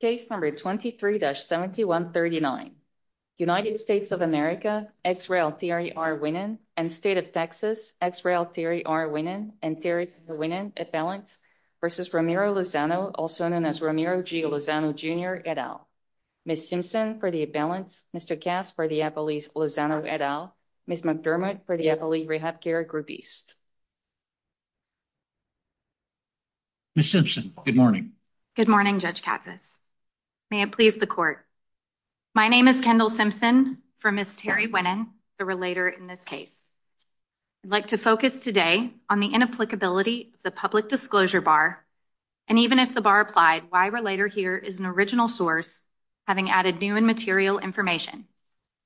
Case number 23-7139. United States of America, Ex Rail Terry R. Winnan and State of Texas, Ex Rail Terry R. Winnan and Terry R. Winnan appellant versus Ramiro Lozano, also known as Ramiro G. Lozano Jr. et al. Ms. Simpson for the appellant. Mr. Cass for the appellee's Lozano et al. Ms. McDermott for the appellee rehab care group east. Ms. Simpson, good morning. Good morning, Judge Katsas. May it please the court. My name is Kendall Simpson for Ms. Terry Winnan, the relator in this case. I'd like to focus today on the inapplicability of the public disclosure bar, and even if the bar applied, why relator here is an original source, having added new and material information,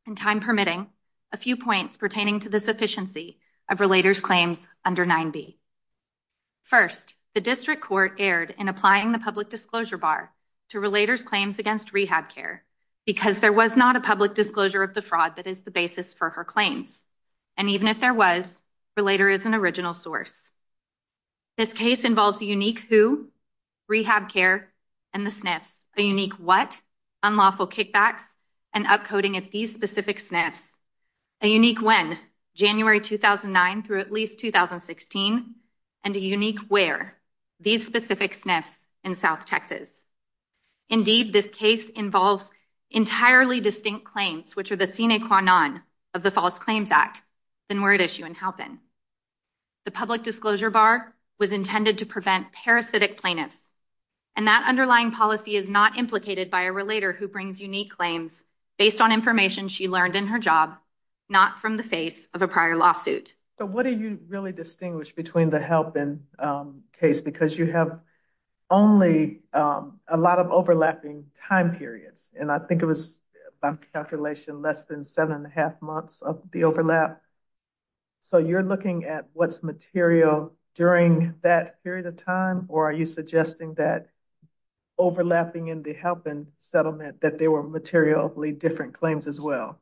and time permitting, a few points pertaining to the sufficiency of relator's claims under 9B. First, the district court erred in applying the public disclosure bar to relator's claims against rehab care because there was not a public disclosure of the fraud that is the basis for her claims, and even if there was, relator is an original source. This case involves a unique who, rehab care, and the specific SNFs, a unique when, January 2009 through at least 2016, and a unique where, these specific SNFs in South Texas. Indeed, this case involves entirely distinct claims, which are the sine qua non of the False Claims Act, the word issue in Halpin. The public disclosure bar was intended to prevent parasitic plaintiffs, and that underlying policy is not implicated by a relator who brings unique claims based on information she learned in her job, not from the face of a prior lawsuit. So, what do you really distinguish between the Halpin case? Because you have only a lot of overlapping time periods, and I think it was, by calculation, less than seven and a half months of the overlap. So, you're looking at what's material during that period of time, or are you suggesting that overlapping in the Halpin settlement, that they were materially different claims as well?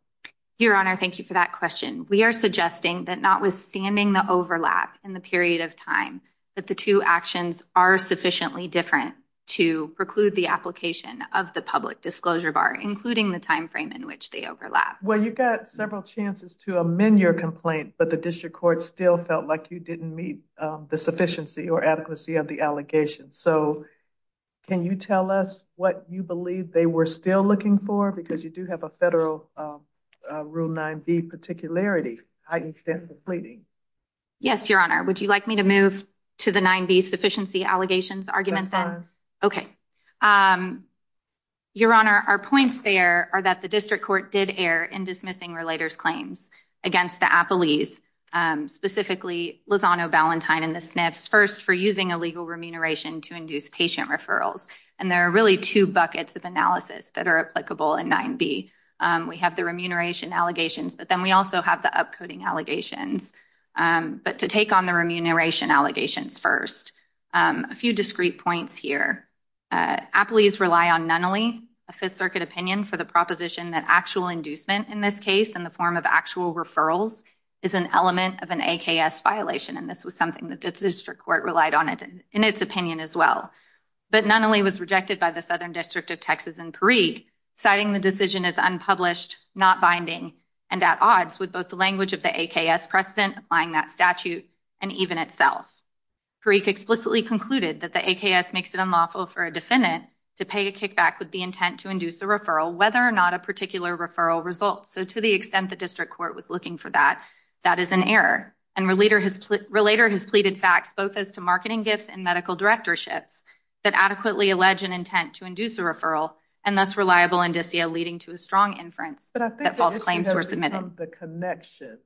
Your Honor, thank you for that question. We are suggesting that notwithstanding the overlap in the period of time, that the two actions are sufficiently different to preclude the application of the public disclosure bar, including the time frame in which they overlap. Well, you've got several chances to amend your complaint, but the district still felt like you didn't meet the sufficiency or adequacy of the allegation. So, can you tell us what you believe they were still looking for? Because you do have a federal Rule 9b particularity. Yes, Your Honor. Would you like me to move to the 9b sufficiency allegations argument then? Okay. Your Honor, our points there are that the district court did err in dismissing claims against the Appellees, specifically Lozano, Ballantyne, and the Sniffs, first for using illegal remuneration to induce patient referrals. And there are really two buckets of analysis that are applicable in 9b. We have the remuneration allegations, but then we also have the upcoding allegations. But to take on the remuneration allegations first, a few discrete points here. Appellees rely on Nunnally, a Fifth Circuit opinion, for the proposition that actual inducement in this case, in the form of actual referrals, is an element of an AKS violation. And this was something that the district court relied on in its opinion as well. But Nunnally was rejected by the Southern District of Texas and Parikh, citing the decision as unpublished, not binding, and at odds with both the language of the AKS precedent applying that statute and even itself. Parikh explicitly concluded that the AKS makes it unlawful for a defendant to pay a referral, whether or not a particular referral results. So to the extent the district court was looking for that, that is an error. And Relator has pleaded facts, both as to marketing gifts and medical directorships, that adequately allege an intent to induce a referral, and thus reliable indicia leading to a strong inference that false claims were submitted. But I think the issue has to do with the connection.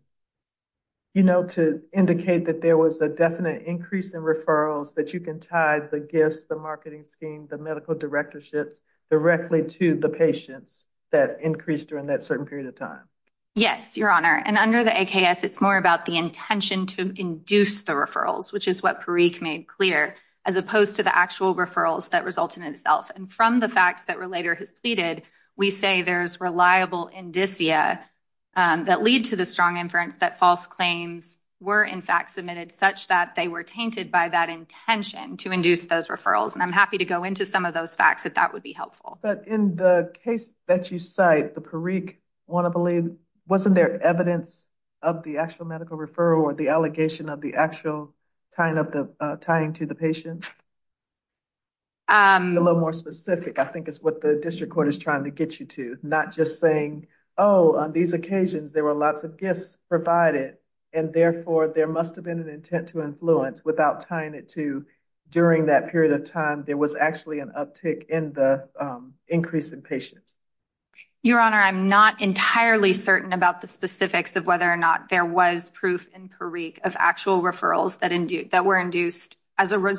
You know, to indicate that there was a definite increase in referrals, that you can tie the gifts, the marketing scheme, the medical directorship, directly to the patients that increased during that certain period of time. Yes, your honor. And under the AKS, it's more about the intention to induce the referrals, which is what Parikh made clear, as opposed to the actual referrals that result in itself. And from the facts that Relator has pleaded, we say there's reliable indicia that lead to the strong inference that false claims were in fact submitted, such that they were tainted by that intention to induce those referrals. And I'm happy to go into some of those facts if that would be helpful. But in the case that you cite, the Parikh, wasn't there evidence of the actual medical referral, or the allegation of the actual tying to the patient? A little more specific, I think, is what the district court is trying to get you to. Not just saying, oh, on these occasions there were lots of gifts provided, and therefore there must have been an intent to influence, without tying it to during that period of time there was actually an uptick in the increase in patients. Your honor, I'm not entirely certain about the specifics of whether or not there was proof in Parikh of actual referrals that were induced as a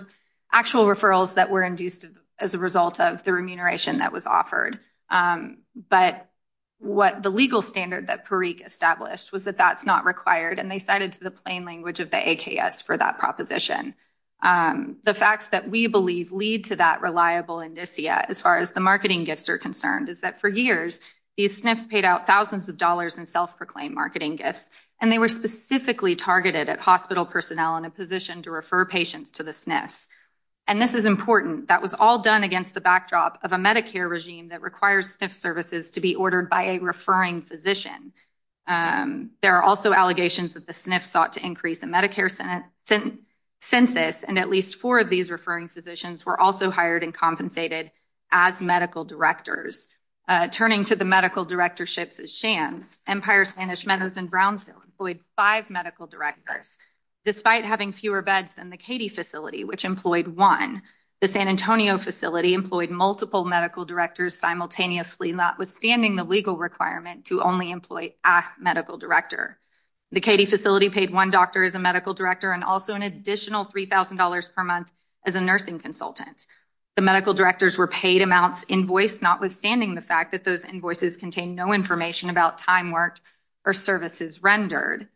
actual referrals that were induced as a result of the remuneration that was offered. But the legal standard that Parikh established was that that's not required, and they cited the plain language of the AKS for that proposition. The facts that we believe lead to that reliable indicia, as far as the marketing gifts are concerned, is that for years these SNFs paid out thousands of dollars in self-proclaimed marketing gifts, and they were specifically targeted at hospital personnel in a position to refer patients to the SNFs. And this is important. That was all done against the backdrop of a Medicare regime that requires SNF services to be ordered by a referring physician. There are also allegations that the SNF sought to increase the Medicare census, and at least four of these referring physicians were also hired and compensated as medical directors. Turning to the medical directorships as shams, Empire Spanish Medicine Brownsville employed five medical directors, despite having fewer beds than the Cady facility, which employed one. The San Antonio facility employed multiple medical directors simultaneously, notwithstanding the legal requirement to only employ a medical director. The Cady facility paid one doctor as a medical director and also an additional $3,000 per month as a nursing consultant. The medical directors were paid amounts invoiced, notwithstanding the fact that those invoices contain no information about time worked or services rendered.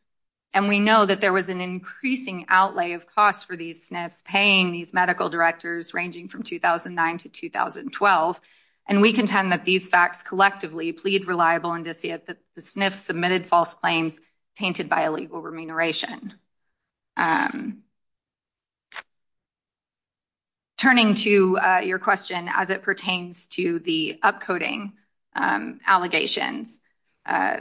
And we know that there was an increasing outlay of costs for these SNFs paying these medical directors ranging from 2009 to 2012, and we contend that these facts collectively plead reliable indicia that the SNFs submitted false claims tainted by illegal remuneration. Turning to your question as it pertains to the upcoding allegations, I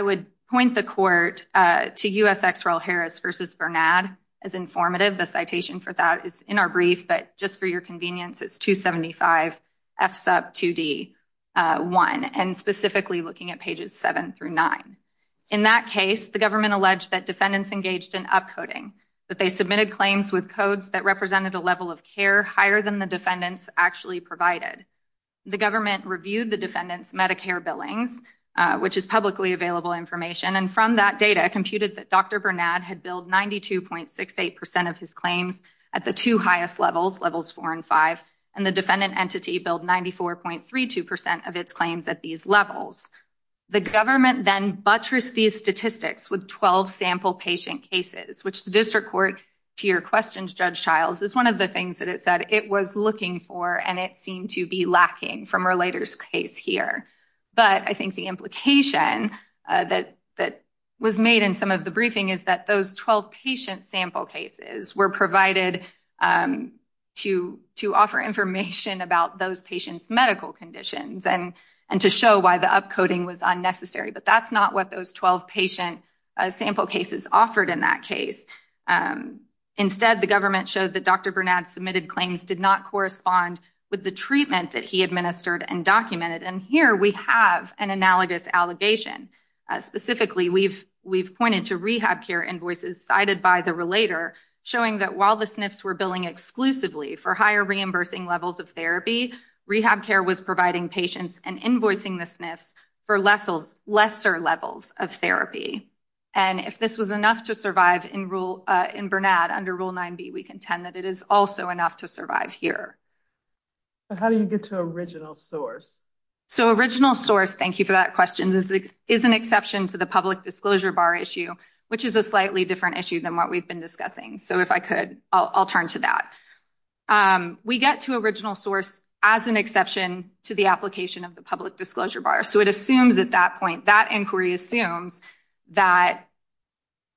would point the court to U.S. ex-Royal Harris v. Bernard as informative. The citation for that is in our brief, but just for your convenience, it's 275 F sub 2D 1, and specifically looking at pages 7 through 9. In that case, the government alleged that defendants engaged in upcoding, but they submitted claims with codes that represented a level of care higher than the defendants actually provided. The government reviewed the defendants' Medicare billings, which is publicly available information, and from that computed that Dr. Bernard had billed 92.68% of his claims at the two highest levels, levels 4 and 5, and the defendant entity billed 94.32% of its claims at these levels. The government then buttressed these statistics with 12 sample patient cases, which the district court to your question, Judge Childs, is one of the things that it said it was looking for and it seemed to be lacking from Relator's case here, but I think the implication that was made in some of the briefing is that those 12 patient sample cases were provided to offer information about those patients' medical conditions and to show why the upcoding was unnecessary, but that's not what those 12 patient sample cases offered in that case. Instead, the government showed that Dr. Bernard had administered and documented, and here we have an analogous allegation. Specifically, we've pointed to rehab care invoices cited by the Relator showing that while the SNFs were billing exclusively for higher reimbursing levels of therapy, rehab care was providing patients and invoicing the SNFs for lesser levels of therapy, and if this was enough to survive in Bernard under Rule 9b, we contend that it is also enough to survive here. How do you get to original source? So original source, thank you for that question, is an exception to the public disclosure bar issue, which is a slightly different issue than what we've been discussing, so if I could, I'll turn to that. We get to original source as an exception to the application of the public disclosure bar, so it assumes at that point, that inquiry assumes that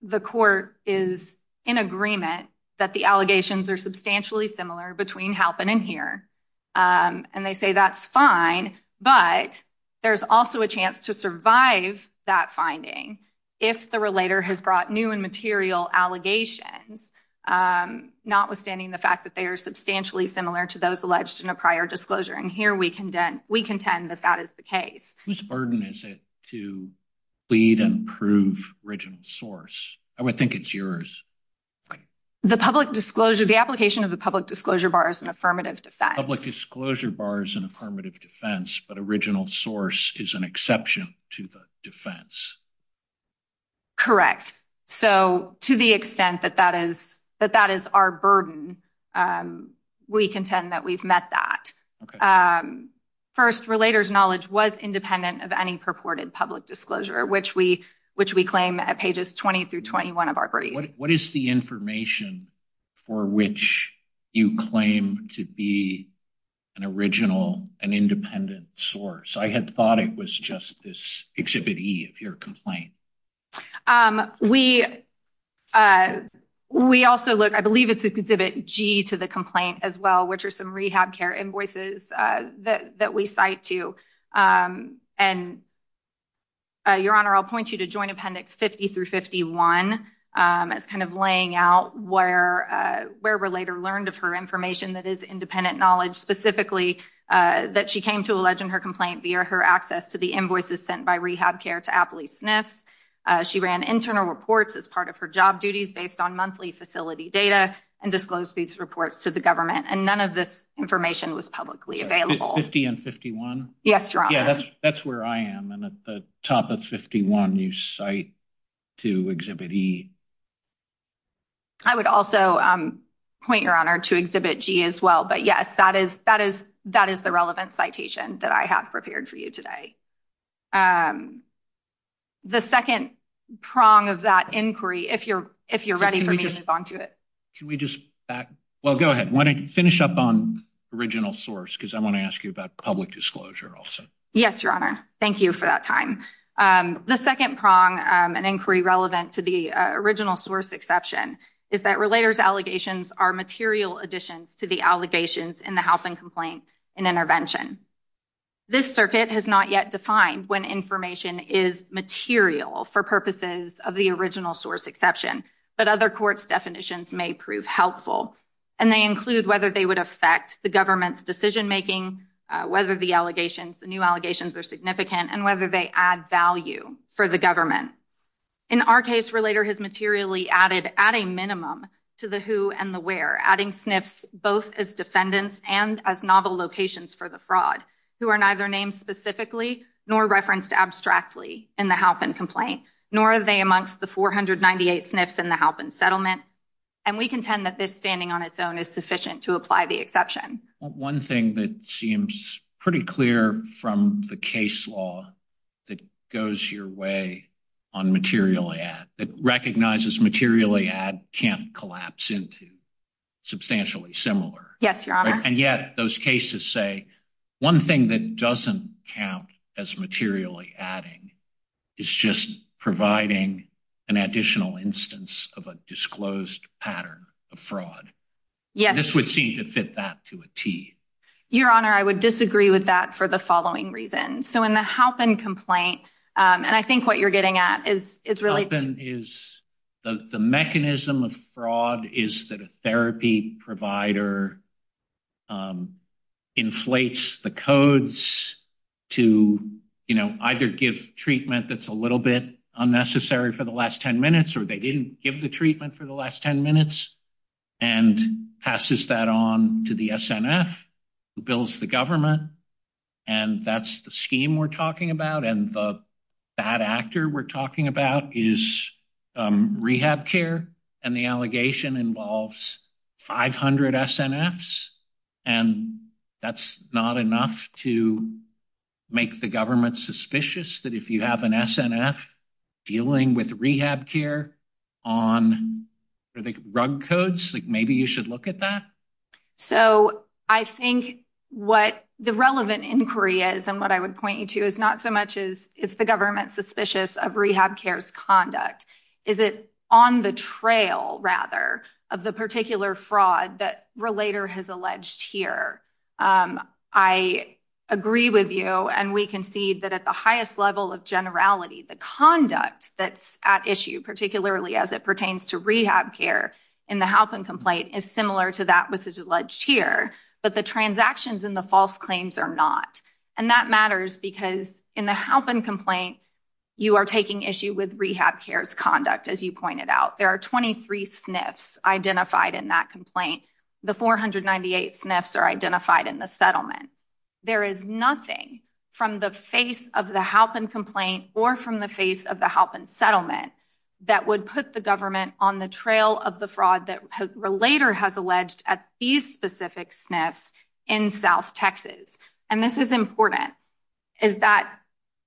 the court is in agreement that the allegations are substantially similar between Halpin and here, and they say that's fine, but there's also a chance to survive that finding if the Relator has brought new and material allegations, notwithstanding the fact that they are substantially similar to those alleged in disclosure, and here we contend that that is the case. Whose burden is it to plead and prove original source? I would think it's yours. The public disclosure, the application of the public disclosure bar is an affirmative defense. Public disclosure bar is an affirmative defense, but original source is an exception to the defense. Correct. So to the extent that that is our burden, we contend that we've met that. Okay. First, Relator's knowledge was independent of any purported public disclosure, which we claim at pages 20 through 21 of our brief. What is the information for which you claim to be an original and independent source? I had thought it was just this Exhibit E of your complaint. We also look, I believe it's Exhibit G to the complaint as well, which are some rehab care invoices that we cite to. Your Honor, I'll point you to Joint Appendix 50 through 51 as kind of laying out where Relator learned of her information that is independent knowledge, specifically that she came to allege in her complaint via her access to the invoices sent by rehab care to Appley Sniffs. She ran internal reports as part of her job duties based on monthly available. 50 and 51? Yes, Your Honor. That's where I am. And at the top of 51, you cite to Exhibit E. I would also point, Your Honor, to Exhibit G as well. But yes, that is the relevant citation that I have prepared for you today. The second prong of that inquiry, if you're ready for me to move on to it. Can we just back? Well, go ahead. Why don't you finish up on original source, because I want to ask you about public disclosure also. Yes, Your Honor. Thank you for that time. The second prong, an inquiry relevant to the original source exception, is that Relator's allegations are material additions to the allegations in the help and complaint and intervention. This circuit has not yet defined when information is material for purposes of the original source exception, but other definitions may prove helpful. And they include whether they would affect the government's decision-making, whether the allegations, the new allegations are significant, and whether they add value for the government. In our case, Relator has materially added at a minimum to the who and the where, adding sniffs both as defendants and as novel locations for the fraud, who are neither named specifically nor referenced abstractly in the help and complaint, nor are they amongst the 498 sniffs in the help and settlement. And we contend that this standing on its own is sufficient to apply the exception. Well, one thing that seems pretty clear from the case law that goes your way on materially add, that recognizes materially add can't collapse into substantially similar. Yes, Your Honor. And yet those cases say one thing that doesn't count as materially adding is just providing an additional instance of a disclosed pattern of fraud. Yes. This would seem to fit that to a tee. Your Honor, I would disagree with that for the following reasons. So in the help and complaint, and I think what you're getting at is it's really is the mechanism of fraud is that a therapy provider inflates the codes to, you know, either give treatment that's a little bit unnecessary for the last 10 minutes or they didn't give the treatment for the last 10 minutes and passes that on to the SNF, who builds the government. And that's the scheme we're talking about. And the bad actor we're talking about is rehab care. And the allegation involves 500 SNFs. And that's not enough to make the government suspicious that if you have an SNF dealing with rehab care on rug codes, like maybe you should look at that. So I think what the relevant inquiry is and what I would point you to is not so much as is the government suspicious of rehab care's conduct. Is it on the trail rather of the particular fraud that Relator has alleged here? I agree with you and we concede that at the highest level of generality, the conduct that's at issue, particularly as it pertains to rehab care in the help and complaint is similar to that which is here, but the transactions in the false claims are not. And that matters because in the help and complaint, you are taking issue with rehab care's conduct. As you pointed out, there are 23 SNFs identified in that complaint. The 498 SNFs are identified in the settlement. There is nothing from the face of the help and complaint or from the face of the help and settlement that would put the government on the trail of the fraud that Relator has alleged at these specific SNFs in South Texas. And this is important, is that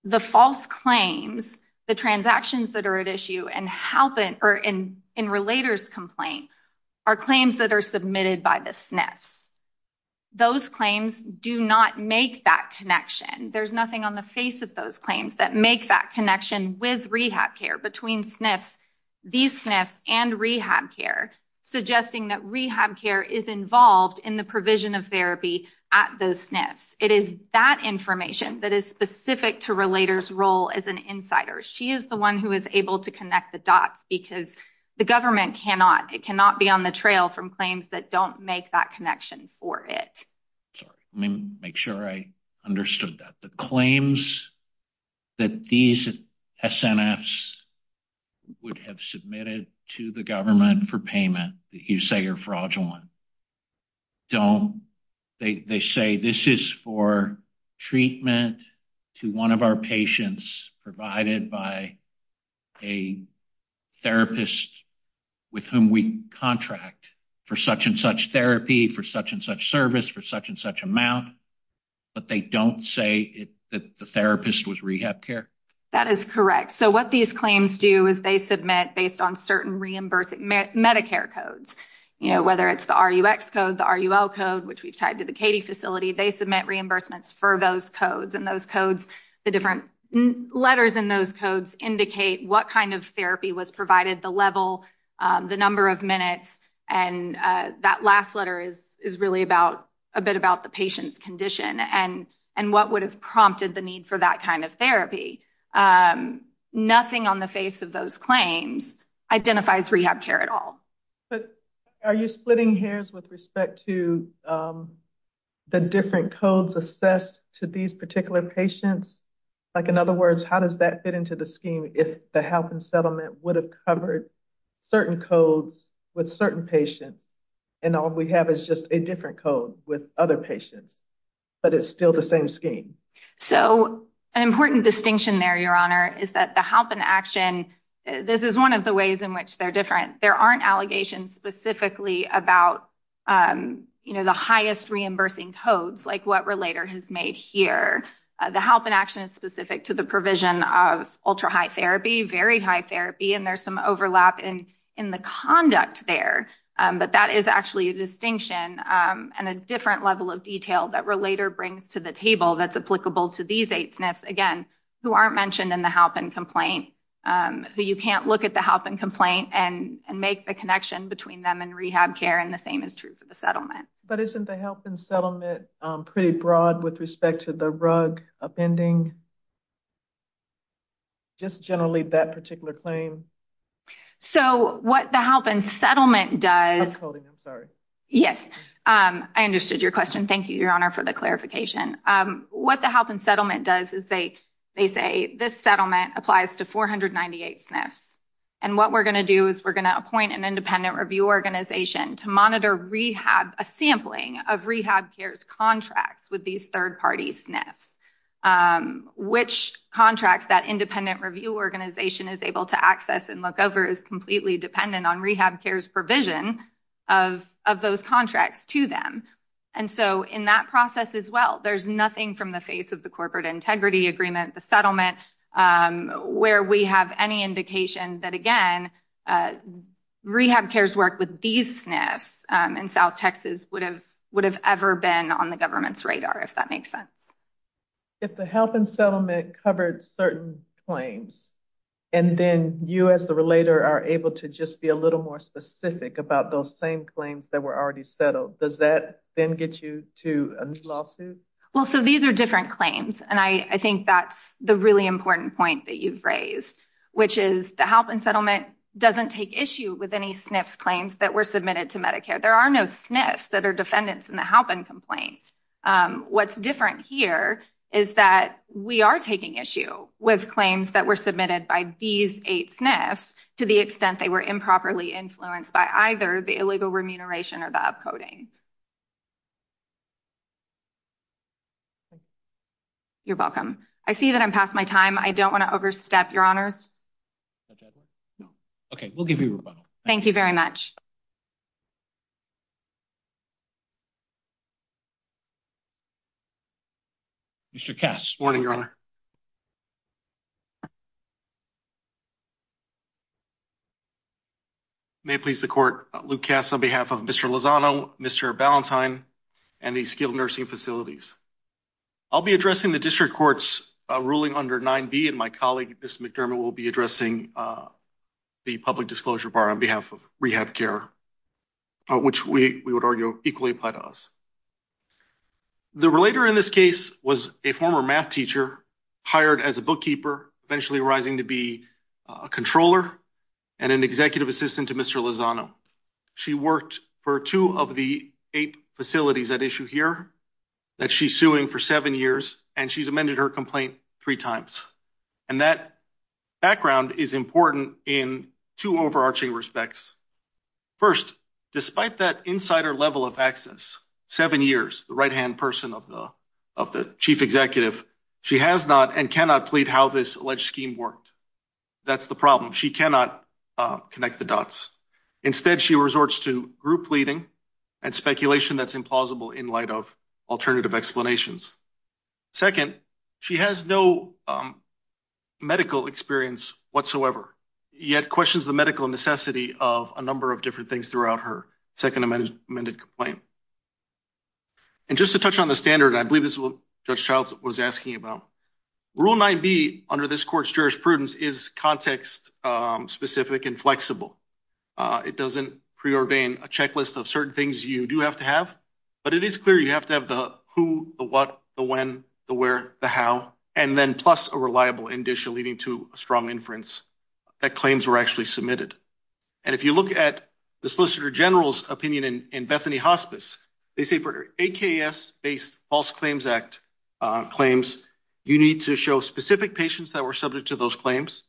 the false claims, the transactions that are at issue in Relator's complaint are claims that are submitted by the SNFs. Those claims do not make that connection. There's nothing on the face of those claims that make that connection with rehab care between SNFs, these SNFs and rehab care, suggesting that rehab care is involved in the provision of therapy at those SNFs. It is that information that is specific to Relator's role as an insider. She is the one who is able to connect the dots because the government cannot, it cannot be on the trail from claims that don't make that connection for it. Sorry, let me make sure I understood that. The claims that these SNFs would have submitted to the government for payment that you say are fraudulent, they say this is for treatment to one of our patients provided by a therapist with whom we contract for such and such therapy, for such and such service, for such and such amount, but they don't say that the therapist was rehab care? That is correct. So what these claims do is they submit based on certain reimbursing Medicare codes, you know, whether it's the RUX code, the RUL code, which we've tied to the Cady facility, they submit reimbursements for those codes. And those codes, the different letters in those codes indicate what kind of therapy was provided, the level, the number of minutes. And that last letter is really about the patient's condition and what would have prompted the need for that kind of therapy. Nothing on the face of those claims identifies rehab care at all. But are you splitting hairs with respect to the different codes assessed to these particular patients? Like in other words, how does that fit into the scheme if the health and settlement would have covered certain codes with certain patients and all we have is just a different code with other patients, but it's still the same scheme? So an important distinction there, Your Honor, is that the help and action, this is one of the ways in which they're different. There aren't allegations specifically about, you know, the highest reimbursing codes like what Relator has made here. The help and action is specific to the provision of ultra high therapy, very high therapy, and there's some overlap in the conduct there. But that is actually a distinction and a different level of detail that Relator brings to the table that's applicable to these eight SNFs, again, who aren't mentioned in the help and complaint, who you can't look at the help and complaint and make the connection between them and rehab care, and the same is true for the settlement. But isn't the help and settlement pretty broad with respect to the rug appending? Just generally that particular claim? So what the help and settlement does, I'm sorry. Yes, I understood your question. Thank you, Your Honor, for the clarification. What the help and settlement does is they say this settlement applies to 498 SNFs, and what we're going to do is we're going to appoint an independent review organization to monitor rehab, a sampling of rehab care's contracts with these third-party SNFs. Which contracts that independent review organization is able to access and look over is completely dependent on rehab care's provision of those contracts to them. And so in that process as well, there's nothing from the face of the corporate integrity agreement, the settlement, where we have any indication that, again, rehab care's work with these SNFs in South Texas would have ever been on the government's radar, if that makes sense. If the help and settlement covered certain claims, and then you as the relator are able to just be a little more specific about those same claims that were already settled, does that then get you to a new lawsuit? Well, so these are different claims, and I think that's the really important point that you've raised, which is the help and settlement doesn't take issue with any SNFs claims that were submitted to Medicare. There are no SNFs that are defendants in the complaint. What's different here is that we are taking issue with claims that were submitted by these eight SNFs to the extent they were improperly influenced by either the illegal remuneration or the upcoding. You're welcome. I see that I'm past my time. I don't want to overstep your honors. Okay, we'll give you a rebuttal. Thank you very much. Mr. Kass. Good morning, Your Honor. May it please the court, Luke Kass on behalf of Mr. Lozano, Mr. Ballantyne, and the skilled nursing facilities. I'll be addressing the district court's ruling under 9b, and my colleague Ms. McDermott will be addressing the public disclosure bar on behalf of rehab care, which we would argue equally apply to us. The relator in this case was a former math teacher hired as a bookkeeper, eventually arising to be a controller and an executive assistant to Mr. Lozano. She worked for two of the eight facilities at issue here that she's suing for seven years, and she's amended her complaint three times. And that background is important in two overarching respects. First, despite that insider level of access, seven years, the right-hand person of the chief executive, she has not and cannot plead how this alleged scheme worked. That's the problem. She cannot connect the dots. Instead, she resorts to group pleading and speculation that's implausible in light of alternative explanations. Second, she has no medical experience whatsoever, yet questions the medical necessity of a number of different things throughout her second amended complaint. And just to touch on the standard, I believe this is what Judge Childs was asking about. Rule 9b under this court's jurisprudence is context-specific and flexible. It doesn't preordain a checklist of certain things you do have to have, but it is the who, the what, the when, the where, the how, and then plus a reliable indicia leading to a strong inference that claims were actually submitted. And if you look at the Solicitor General's opinion in Bethany Hospice, they say for AKS-based False Claims Act claims, you need to show specific patients that were subject to those claims.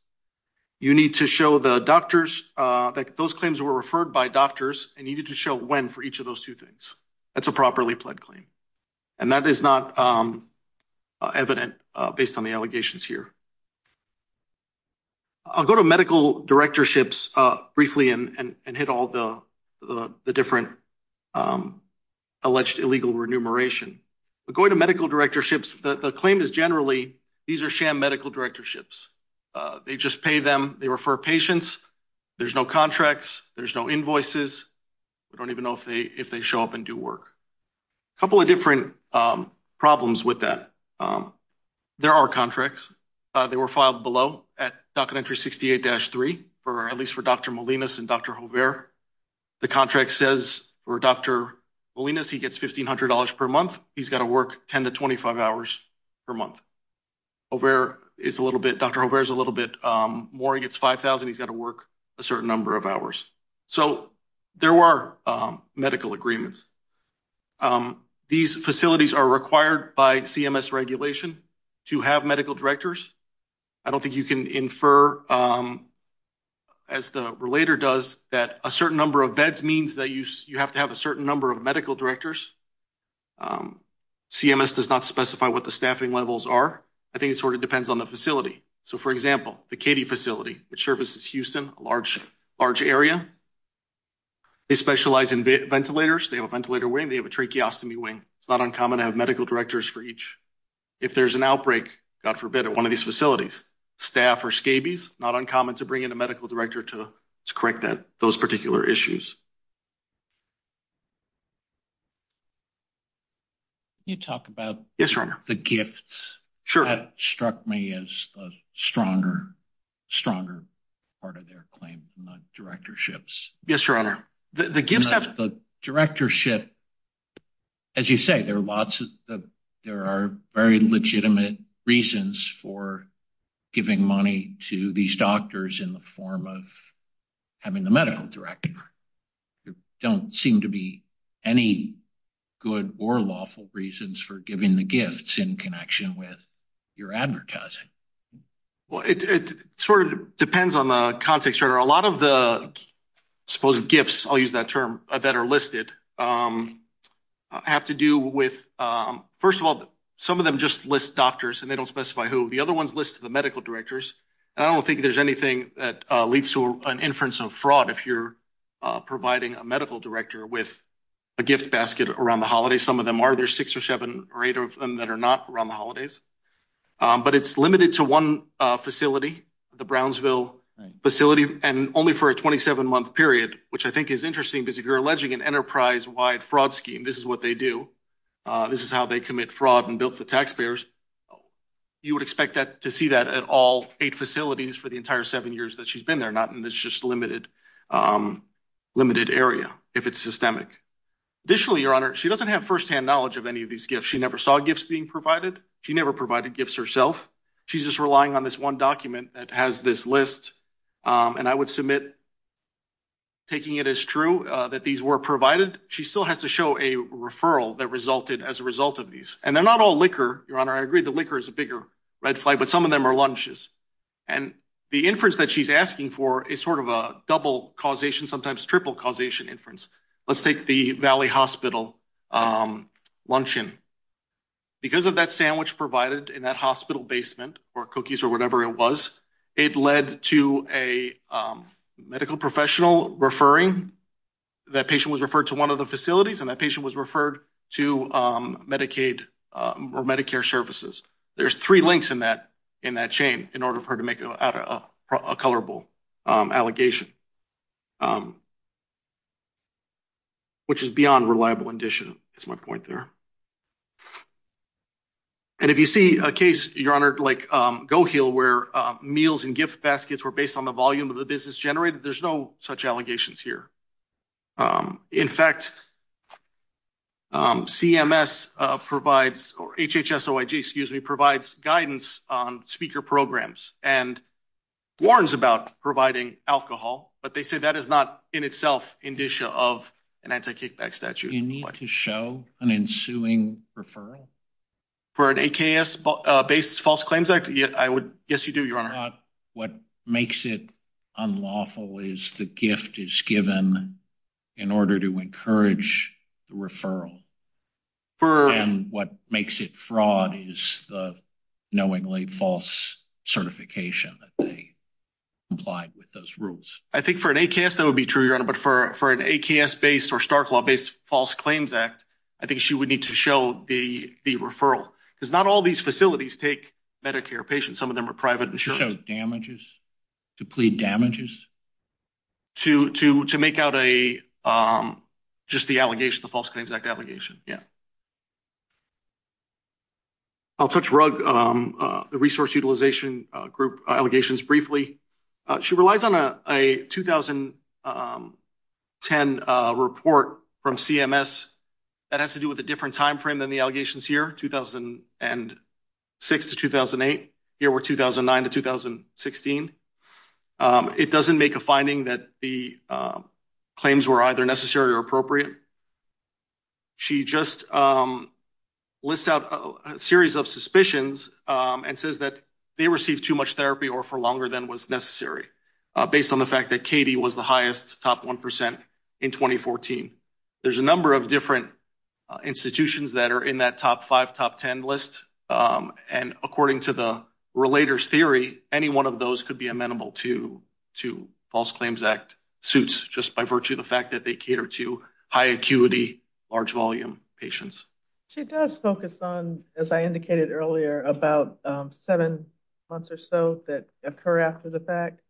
You need to show the doctors that those claims were referred by doctors and you need to show when for each of those two That's a properly pled claim. And that is not evident based on the allegations here. I'll go to medical directorships briefly and hit all the different alleged illegal remuneration. But going to medical directorships, the claim is generally these are sham medical directorships. They just pay them, they refer patients, there's no contracts, there's no invoices. We don't even know if they show up and do work. A couple of different problems with that. There are contracts. They were filed below at Docket Entry 68-3, at least for Dr. Molinas and Dr. Hovere. The contract says for Dr. Molinas, he gets $1,500 per month. He's got to work 10 to 25 hours per month. Dr. Hovere is a little bit more. He gets $5,000. He's got to work a certain number of hours. So there were medical agreements. These facilities are required by CMS regulation to have medical directors. I don't think you can infer, as the relator does, that a certain number of vets means that you have to have a certain number of medical directors. CMS does not specify what the staffing levels are. I think it sort of depends on the facility. So for example, the Katie facility, which services Houston, a large area, they specialize in ventilators. They have a ventilator wing. They have a tracheostomy wing. It's not uncommon to have medical directors for each. If there's an outbreak, God forbid, at one of these facilities, staff or scabies, not uncommon to bring in a medical director to correct those particular issues. Can you talk about the gifts? That struck me as the stronger part of their claim in the directorships. The directorship, as you say, there are very legitimate reasons for giving money to these doctors in the form of having the medical director. There don't seem to be any good or lawful reasons for giving the gifts in connection with your advertising. Well, it sort of depends on the context. A lot of the supposed gifts, I'll use that term, that are listed have to do with, first of all, some of them just list doctors and they don't anything that leads to an inference of fraud if you're providing a medical director with a gift basket around the holidays. Some of them are. There's six or seven or eight of them that are not around the holidays. But it's limited to one facility, the Brownsville facility, and only for a 27-month period, which I think is interesting because if you're alleging an enterprise-wide fraud scheme, this is what they do. This is how they commit fraud and to the taxpayers. You would expect to see that at all eight facilities for the entire seven years that she's been there, not in this just limited area, if it's systemic. Additionally, Your Honor, she doesn't have firsthand knowledge of any of these gifts. She never saw gifts being provided. She never provided gifts herself. She's just relying on this one document that has this list, and I would submit taking it as true that these were provided. She still has to show a referral that resulted as a result of these. And they're not all liquor, Your Honor. I agree the liquor is a bigger red flag, but some of them are lunches. And the inference that she's asking for is sort of a double causation, sometimes triple causation inference. Let's take the Valley Hospital luncheon. Because of that sandwich provided in that hospital basement or cookies or whatever it was, it led to a medical professional referring. That patient was referred to one of the facilities, and that patient was referred to Medicaid or Medicare services. There's three links in that chain in order for her to make a colorable allegation, which is beyond reliable indicia. That's my point there. And if you see a case, Your Honor, like GoHeal, where meals and gift baskets were based on the CMS provides, or HHS-OIG, excuse me, provides guidance on speaker programs and warns about providing alcohol, but they say that is not in itself indicia of an anti-kickback statute. You need to show an ensuing referral? For an AKS-based false claims act? Yes, you do, Your Honor. What makes it unlawful is the gift is given in order to encourage the referral. And what makes it fraud is the knowingly false certification that they implied with those rules. I think for an AKS, that would be true, Your Honor, but for an AKS-based or Stark law-based false claims act, I think she would need to show the referral. Because not all these facilities take Medicare patients. Some of them are private damages. To plead damages? To make out just the false claims act allegation, yeah. I'll touch rug the resource utilization group allegations briefly. She relies on a 2010 report from CMS that has to do with a different time frame than the allegations here, 2006 to 2008. Here we're 2009 to 2016. It doesn't make a finding that the claims were either necessary or appropriate. She just lists out a series of suspicions and says that they received too much therapy or for longer than was necessary, based on the fact that Katie was the highest top 1% in 2014. There's a number of different institutions that are in that top five, top 10 list. According to the relator's theory, any one of those could be amenable to false claims act suits, just by virtue of the fact that they cater to high acuity, large volume patients. She does focus on, as I indicated earlier, about seven months or so that occur after the fact.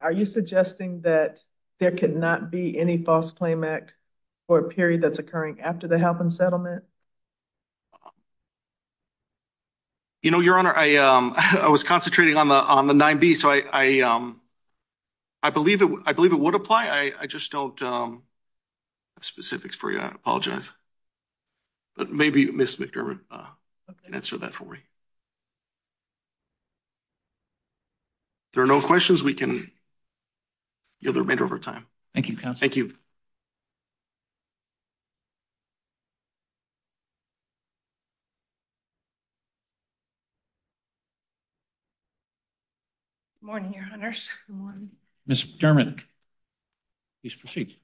Are you suggesting that there could not be any false claim act for a period that's occurring after the help and settlement? You know, Your Honor, I was concentrating on the 9B, so I believe it would apply. I just don't have specifics for you. I apologize. But maybe Ms. McDermott can answer that for me. There are no questions. We can yield the remainder of our time. Thank you, Counselor. Thank you. Good morning, Your Honors. Ms. McDermott, please proceed.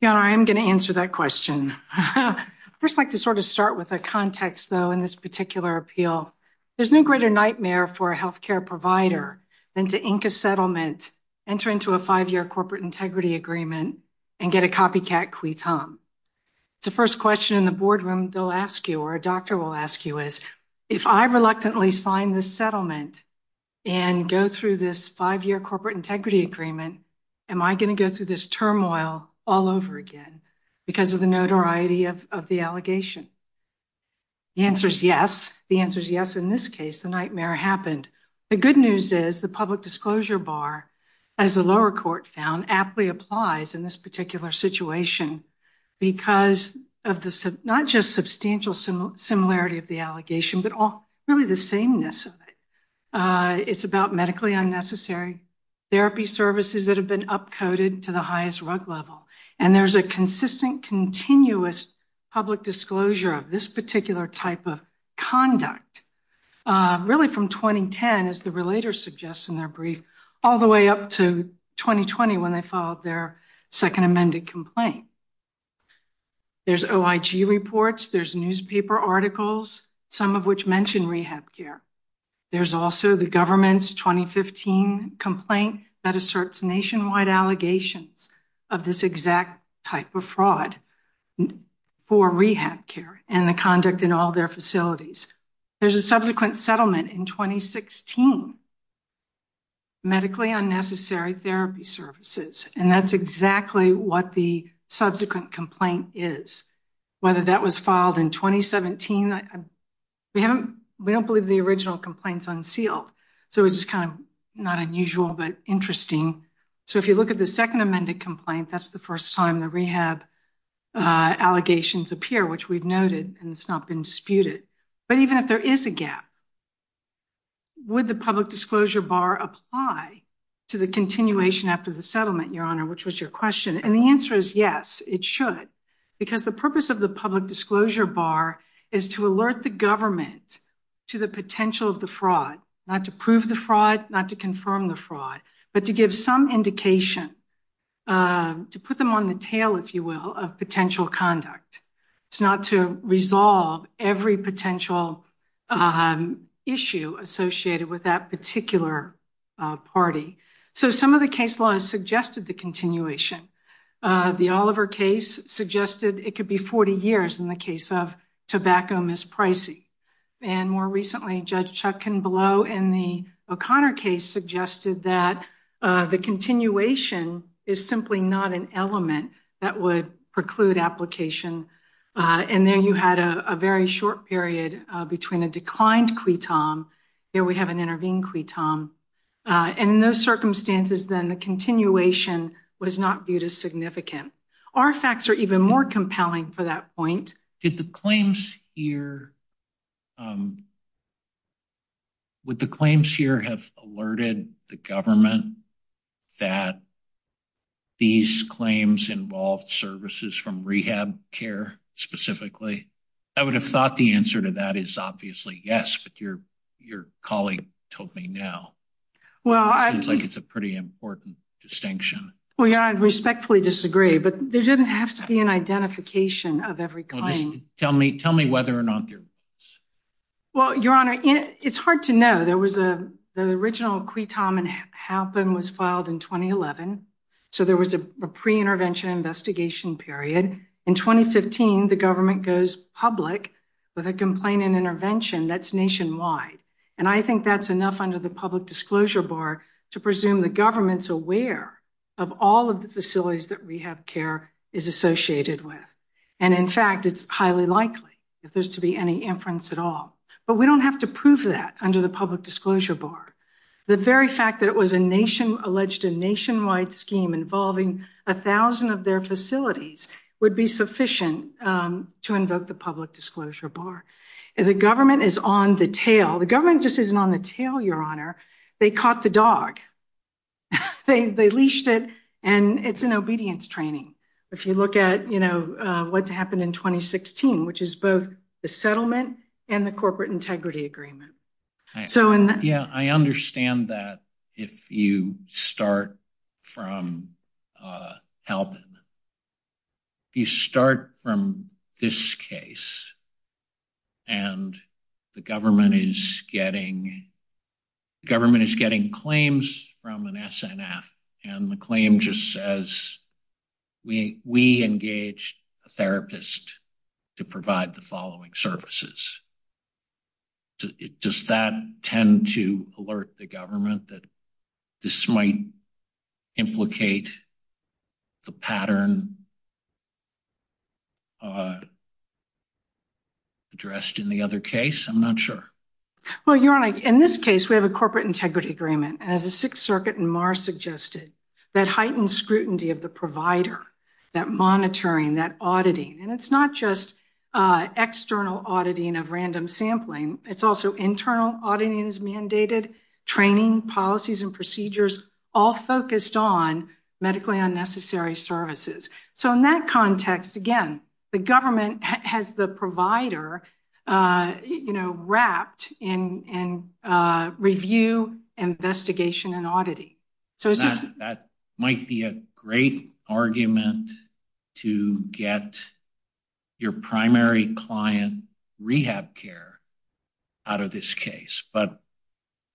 Your Honor, I am going to answer that question. I'd first like to sort of start with a context, though, in this particular appeal. There's no greater nightmare for a health care provider than to ink a settlement, enter into a five-year corporate integrity agreement, and get a copycat qui tam. It's the first question in the boardroom they'll ask you, or a doctor will ask you, is, if I reluctantly sign this settlement and go through this five-year corporate integrity agreement, am I going to go through this turmoil all over again because of the notoriety of the allegation? The answer is yes. The answer is yes in this case. The nightmare happened. The good news is the public disclosure bar, as the lower court found, aptly applies in this particular situation because of not just substantial similarity of the allegation, but really the sameness of it. It's about medically unnecessary therapy services that have been up-coded to the highest rug level. And there's a consistent, continuous public disclosure of this particular type of conduct, really from 2010, as the second amended complaint. There's OIG reports, there's newspaper articles, some of which mention rehab care. There's also the government's 2015 complaint that asserts nationwide allegations of this exact type of fraud for rehab care and the conduct in all their facilities. There's a subsequent settlement in 2016, medically unnecessary therapy services. And that's exactly what the subsequent complaint is. Whether that was filed in 2017, we don't believe the original complaint's unsealed. So it's kind of not unusual, but interesting. So if you look at the second amended complaint, that's the first time the rehab allegations appear, which we've noted and it's not been applied to the continuation after the settlement, Your Honor, which was your question. And the answer is yes, it should. Because the purpose of the public disclosure bar is to alert the government to the potential of the fraud, not to prove the fraud, not to confirm the fraud, but to give some indication, to put them on the tail, if you will, of potential conduct. It's not to resolve every potential issue associated with that particular party. So some of the case laws suggested the continuation. The Oliver case suggested it could be 40 years in the case of tobacco mispricing. And more recently, Judge Chuck Kinblow in the O'Connor case suggested that the continuation is simply not an element that would preclude application. And there you had a very short period between a declined quitom, here we have an intervened quitom. And in those circumstances, then the continuation was not viewed as significant. Our facts are even more compelling for that point. Did the claims here, would the claims here have alerted the government that these claims involved services from rehab care specifically? I would have thought the answer to that is obviously yes, but your colleague told me no. It seems like it's a pretty important distinction. Well, Your Honor, I respectfully disagree. But there didn't have to be an identification of every claim. Tell me whether or not there was. Well, Your Honor, it's hard to know. The original quitom and happen was filed in 2011. So there was a pre-intervention investigation period. In 2015, the government goes public with a complaint and intervention that's nationwide. And I think that's enough under the public disclosure bar to presume the government's aware of all of the facilities that rehab care is associated with. And in fact, it's highly likely if there's to be any inference at all. But we don't have to prove that under the public disclosure bar. The very fact that alleged a nationwide scheme involving a thousand of their facilities would be sufficient to invoke the public disclosure bar. The government is on the tail. The government just isn't on the tail, Your Honor. They caught the dog. They leashed it. And it's an obedience training. If you look at what's happened in 2016, which is both the settlement and the corporate integrity agreement. So, yeah, I understand that if you start from helping you start from this case and the government is getting the government is getting claims from an SNF and the claim just says we we engaged a therapist to provide the following services. Does that tend to alert the government that this might implicate the pattern addressed in the other case? I'm not sure. Well, Your Honor, in this case, we have a corporate integrity agreement as the Sixth Auditing. And it's not just external auditing of random sampling. It's also internal auditing is mandated training policies and procedures all focused on medically unnecessary services. So in that context, again, the government has the provider, you know, wrapped in and review investigation and auditing. So that might be a great argument to get your primary client rehab care out of this case. But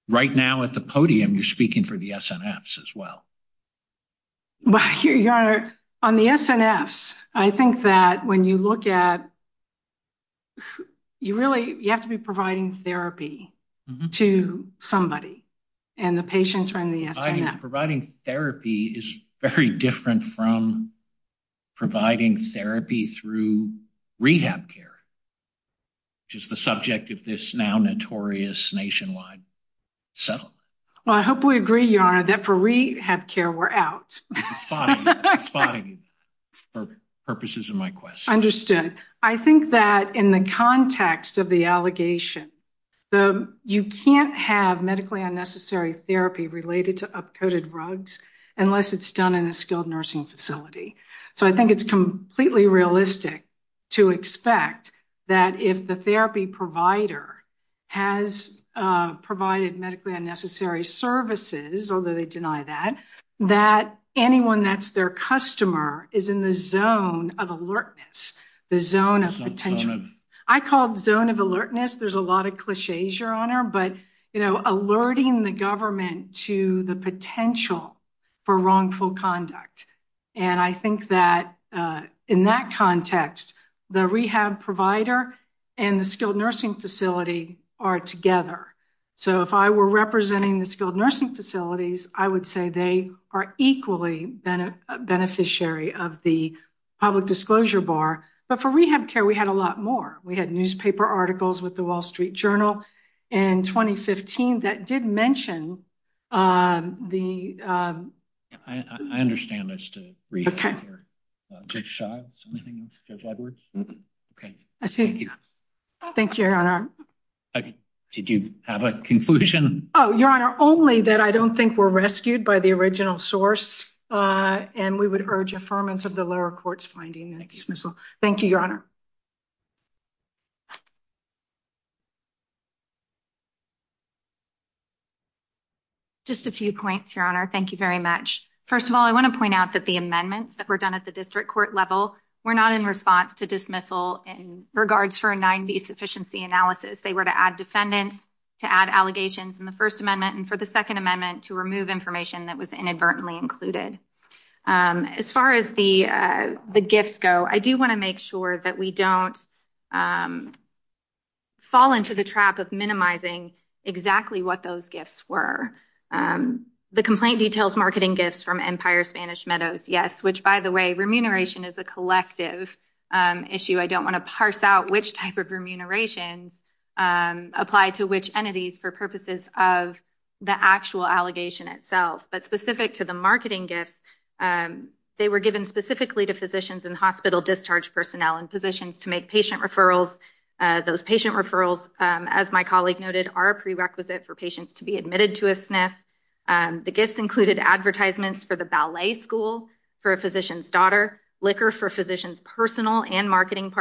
right now at the podium, you're speaking for the SNFs as well. Well, Your Honor, on the SNFs, I think that when you look at you really you have to be providing therapy to somebody and the patients from the SNF. Providing therapy is very different from providing therapy through rehab care, which is the subject of this now notorious nationwide settlement. Well, I hope we agree, Your Honor, that for rehab care, we're out. Spotting purposes of my question. Understood. I think that in the context of the allegation, you can't have medically unnecessary therapy related to upcoded rugs unless it's done in a skilled nursing facility. So I think it's completely realistic to expect that if the therapy provider has provided medically unnecessary services, although they deny that, that anyone that's their customer is in the zone of alertness, the zone of potential. I called zone of alertness. There's a lot of cliches, Your Honor, but alerting the government to the potential for wrongful conduct. And I think that in that context, the rehab provider and the skilled nursing facility are together. So if I were representing the skilled nursing facilities, I would say they are equally a beneficiary of the public disclosure bar. But for rehab care, we had a lot more. We had newspaper articles with the Wall Street Journal in 2015 that did mention the... I understand it's to rehab care. Judge Shaw, is there anything else? Judge Edwards? Okay. I see. Thank you. Thank you, Your Honor. Did you have a conclusion? Oh, Your Honor, only that I don't think we're rescued by the original source, and we would urge affirmance of the lower court's finding and dismissal. Thank you, Your Honor. Just a few points, Your Honor. Thank you very much. First of all, I want to point out that the amendments that were done at the district court level were not in response to dismissal in regards for a 9B sufficiency analysis. They were to add defendants, to add allegations. In the First Amendment, and for the Second Amendment, to remove information that was inadvertently included. As far as the gifts go, I do want to make sure that we don't fall into the trap of minimizing exactly what those gifts were. The complaint details marketing gifts from Empire Spanish Meadows, yes, which, by the way, remuneration is a collective issue. I don't want to parse out which type of remunerations apply to which entities for purposes of the actual allegation itself. But specific to the marketing gifts, they were given specifically to physicians and hospital discharge personnel in positions to make patient referrals. Those patient referrals, as my colleague noted, are a prerequisite for patients to be admitted to a SNF. The gifts included advertisements for the ballet school for a physician's daughter, liquor for physicians' personal and marketing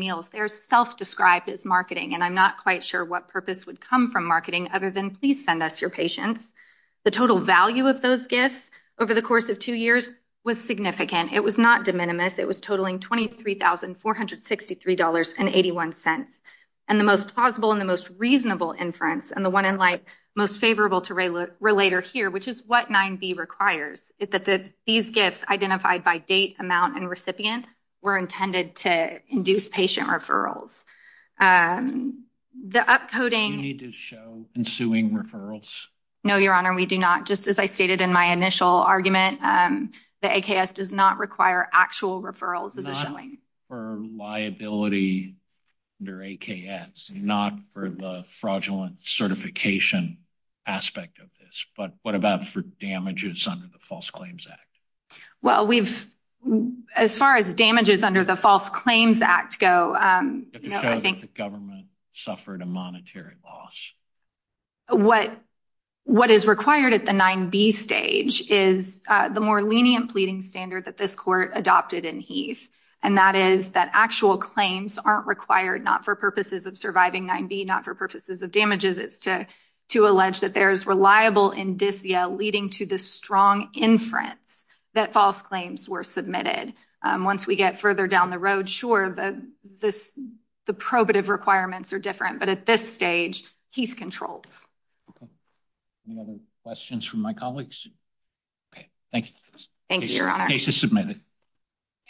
meals. They are self-described as marketing, and I'm not quite sure what purpose would come from marketing other than please send us your patients. The total value of those gifts over the course of two years was significant. It was not de minimis. It was totaling $23,463.81. And the most plausible and the most reasonable inference, and the one in light most favorable to relater here, which is what 9B requires, is that these gifts, identified by date, amount, and recipient, were intended to induce patient referrals. The upcoding... Do you need to show ensuing referrals? No, Your Honor, we do not. Just as I stated in my initial argument, the AKS does not require actual referrals as a showing. Not for liability under AKS, not for the fraudulent certification aspect of this, but what about for damages under the False Claims Act? Well, we've... As far as damages under the False Claims Act go... You have to show that the government suffered a monetary loss. What is required at the 9B stage is the more lenient pleading standard that this court adopted in Heath, and that is that actual claims aren't required not for purposes of surviving 9B, not for purposes of damages. It's to allege that there's reliable indicia leading to the strong inference that false claims were submitted. Once we get further down the road, sure, the probative requirements are different, but at this stage, Heath controls. Any other questions from my colleagues? Okay, thank you. Thank you, Your Honor. Case is submitted.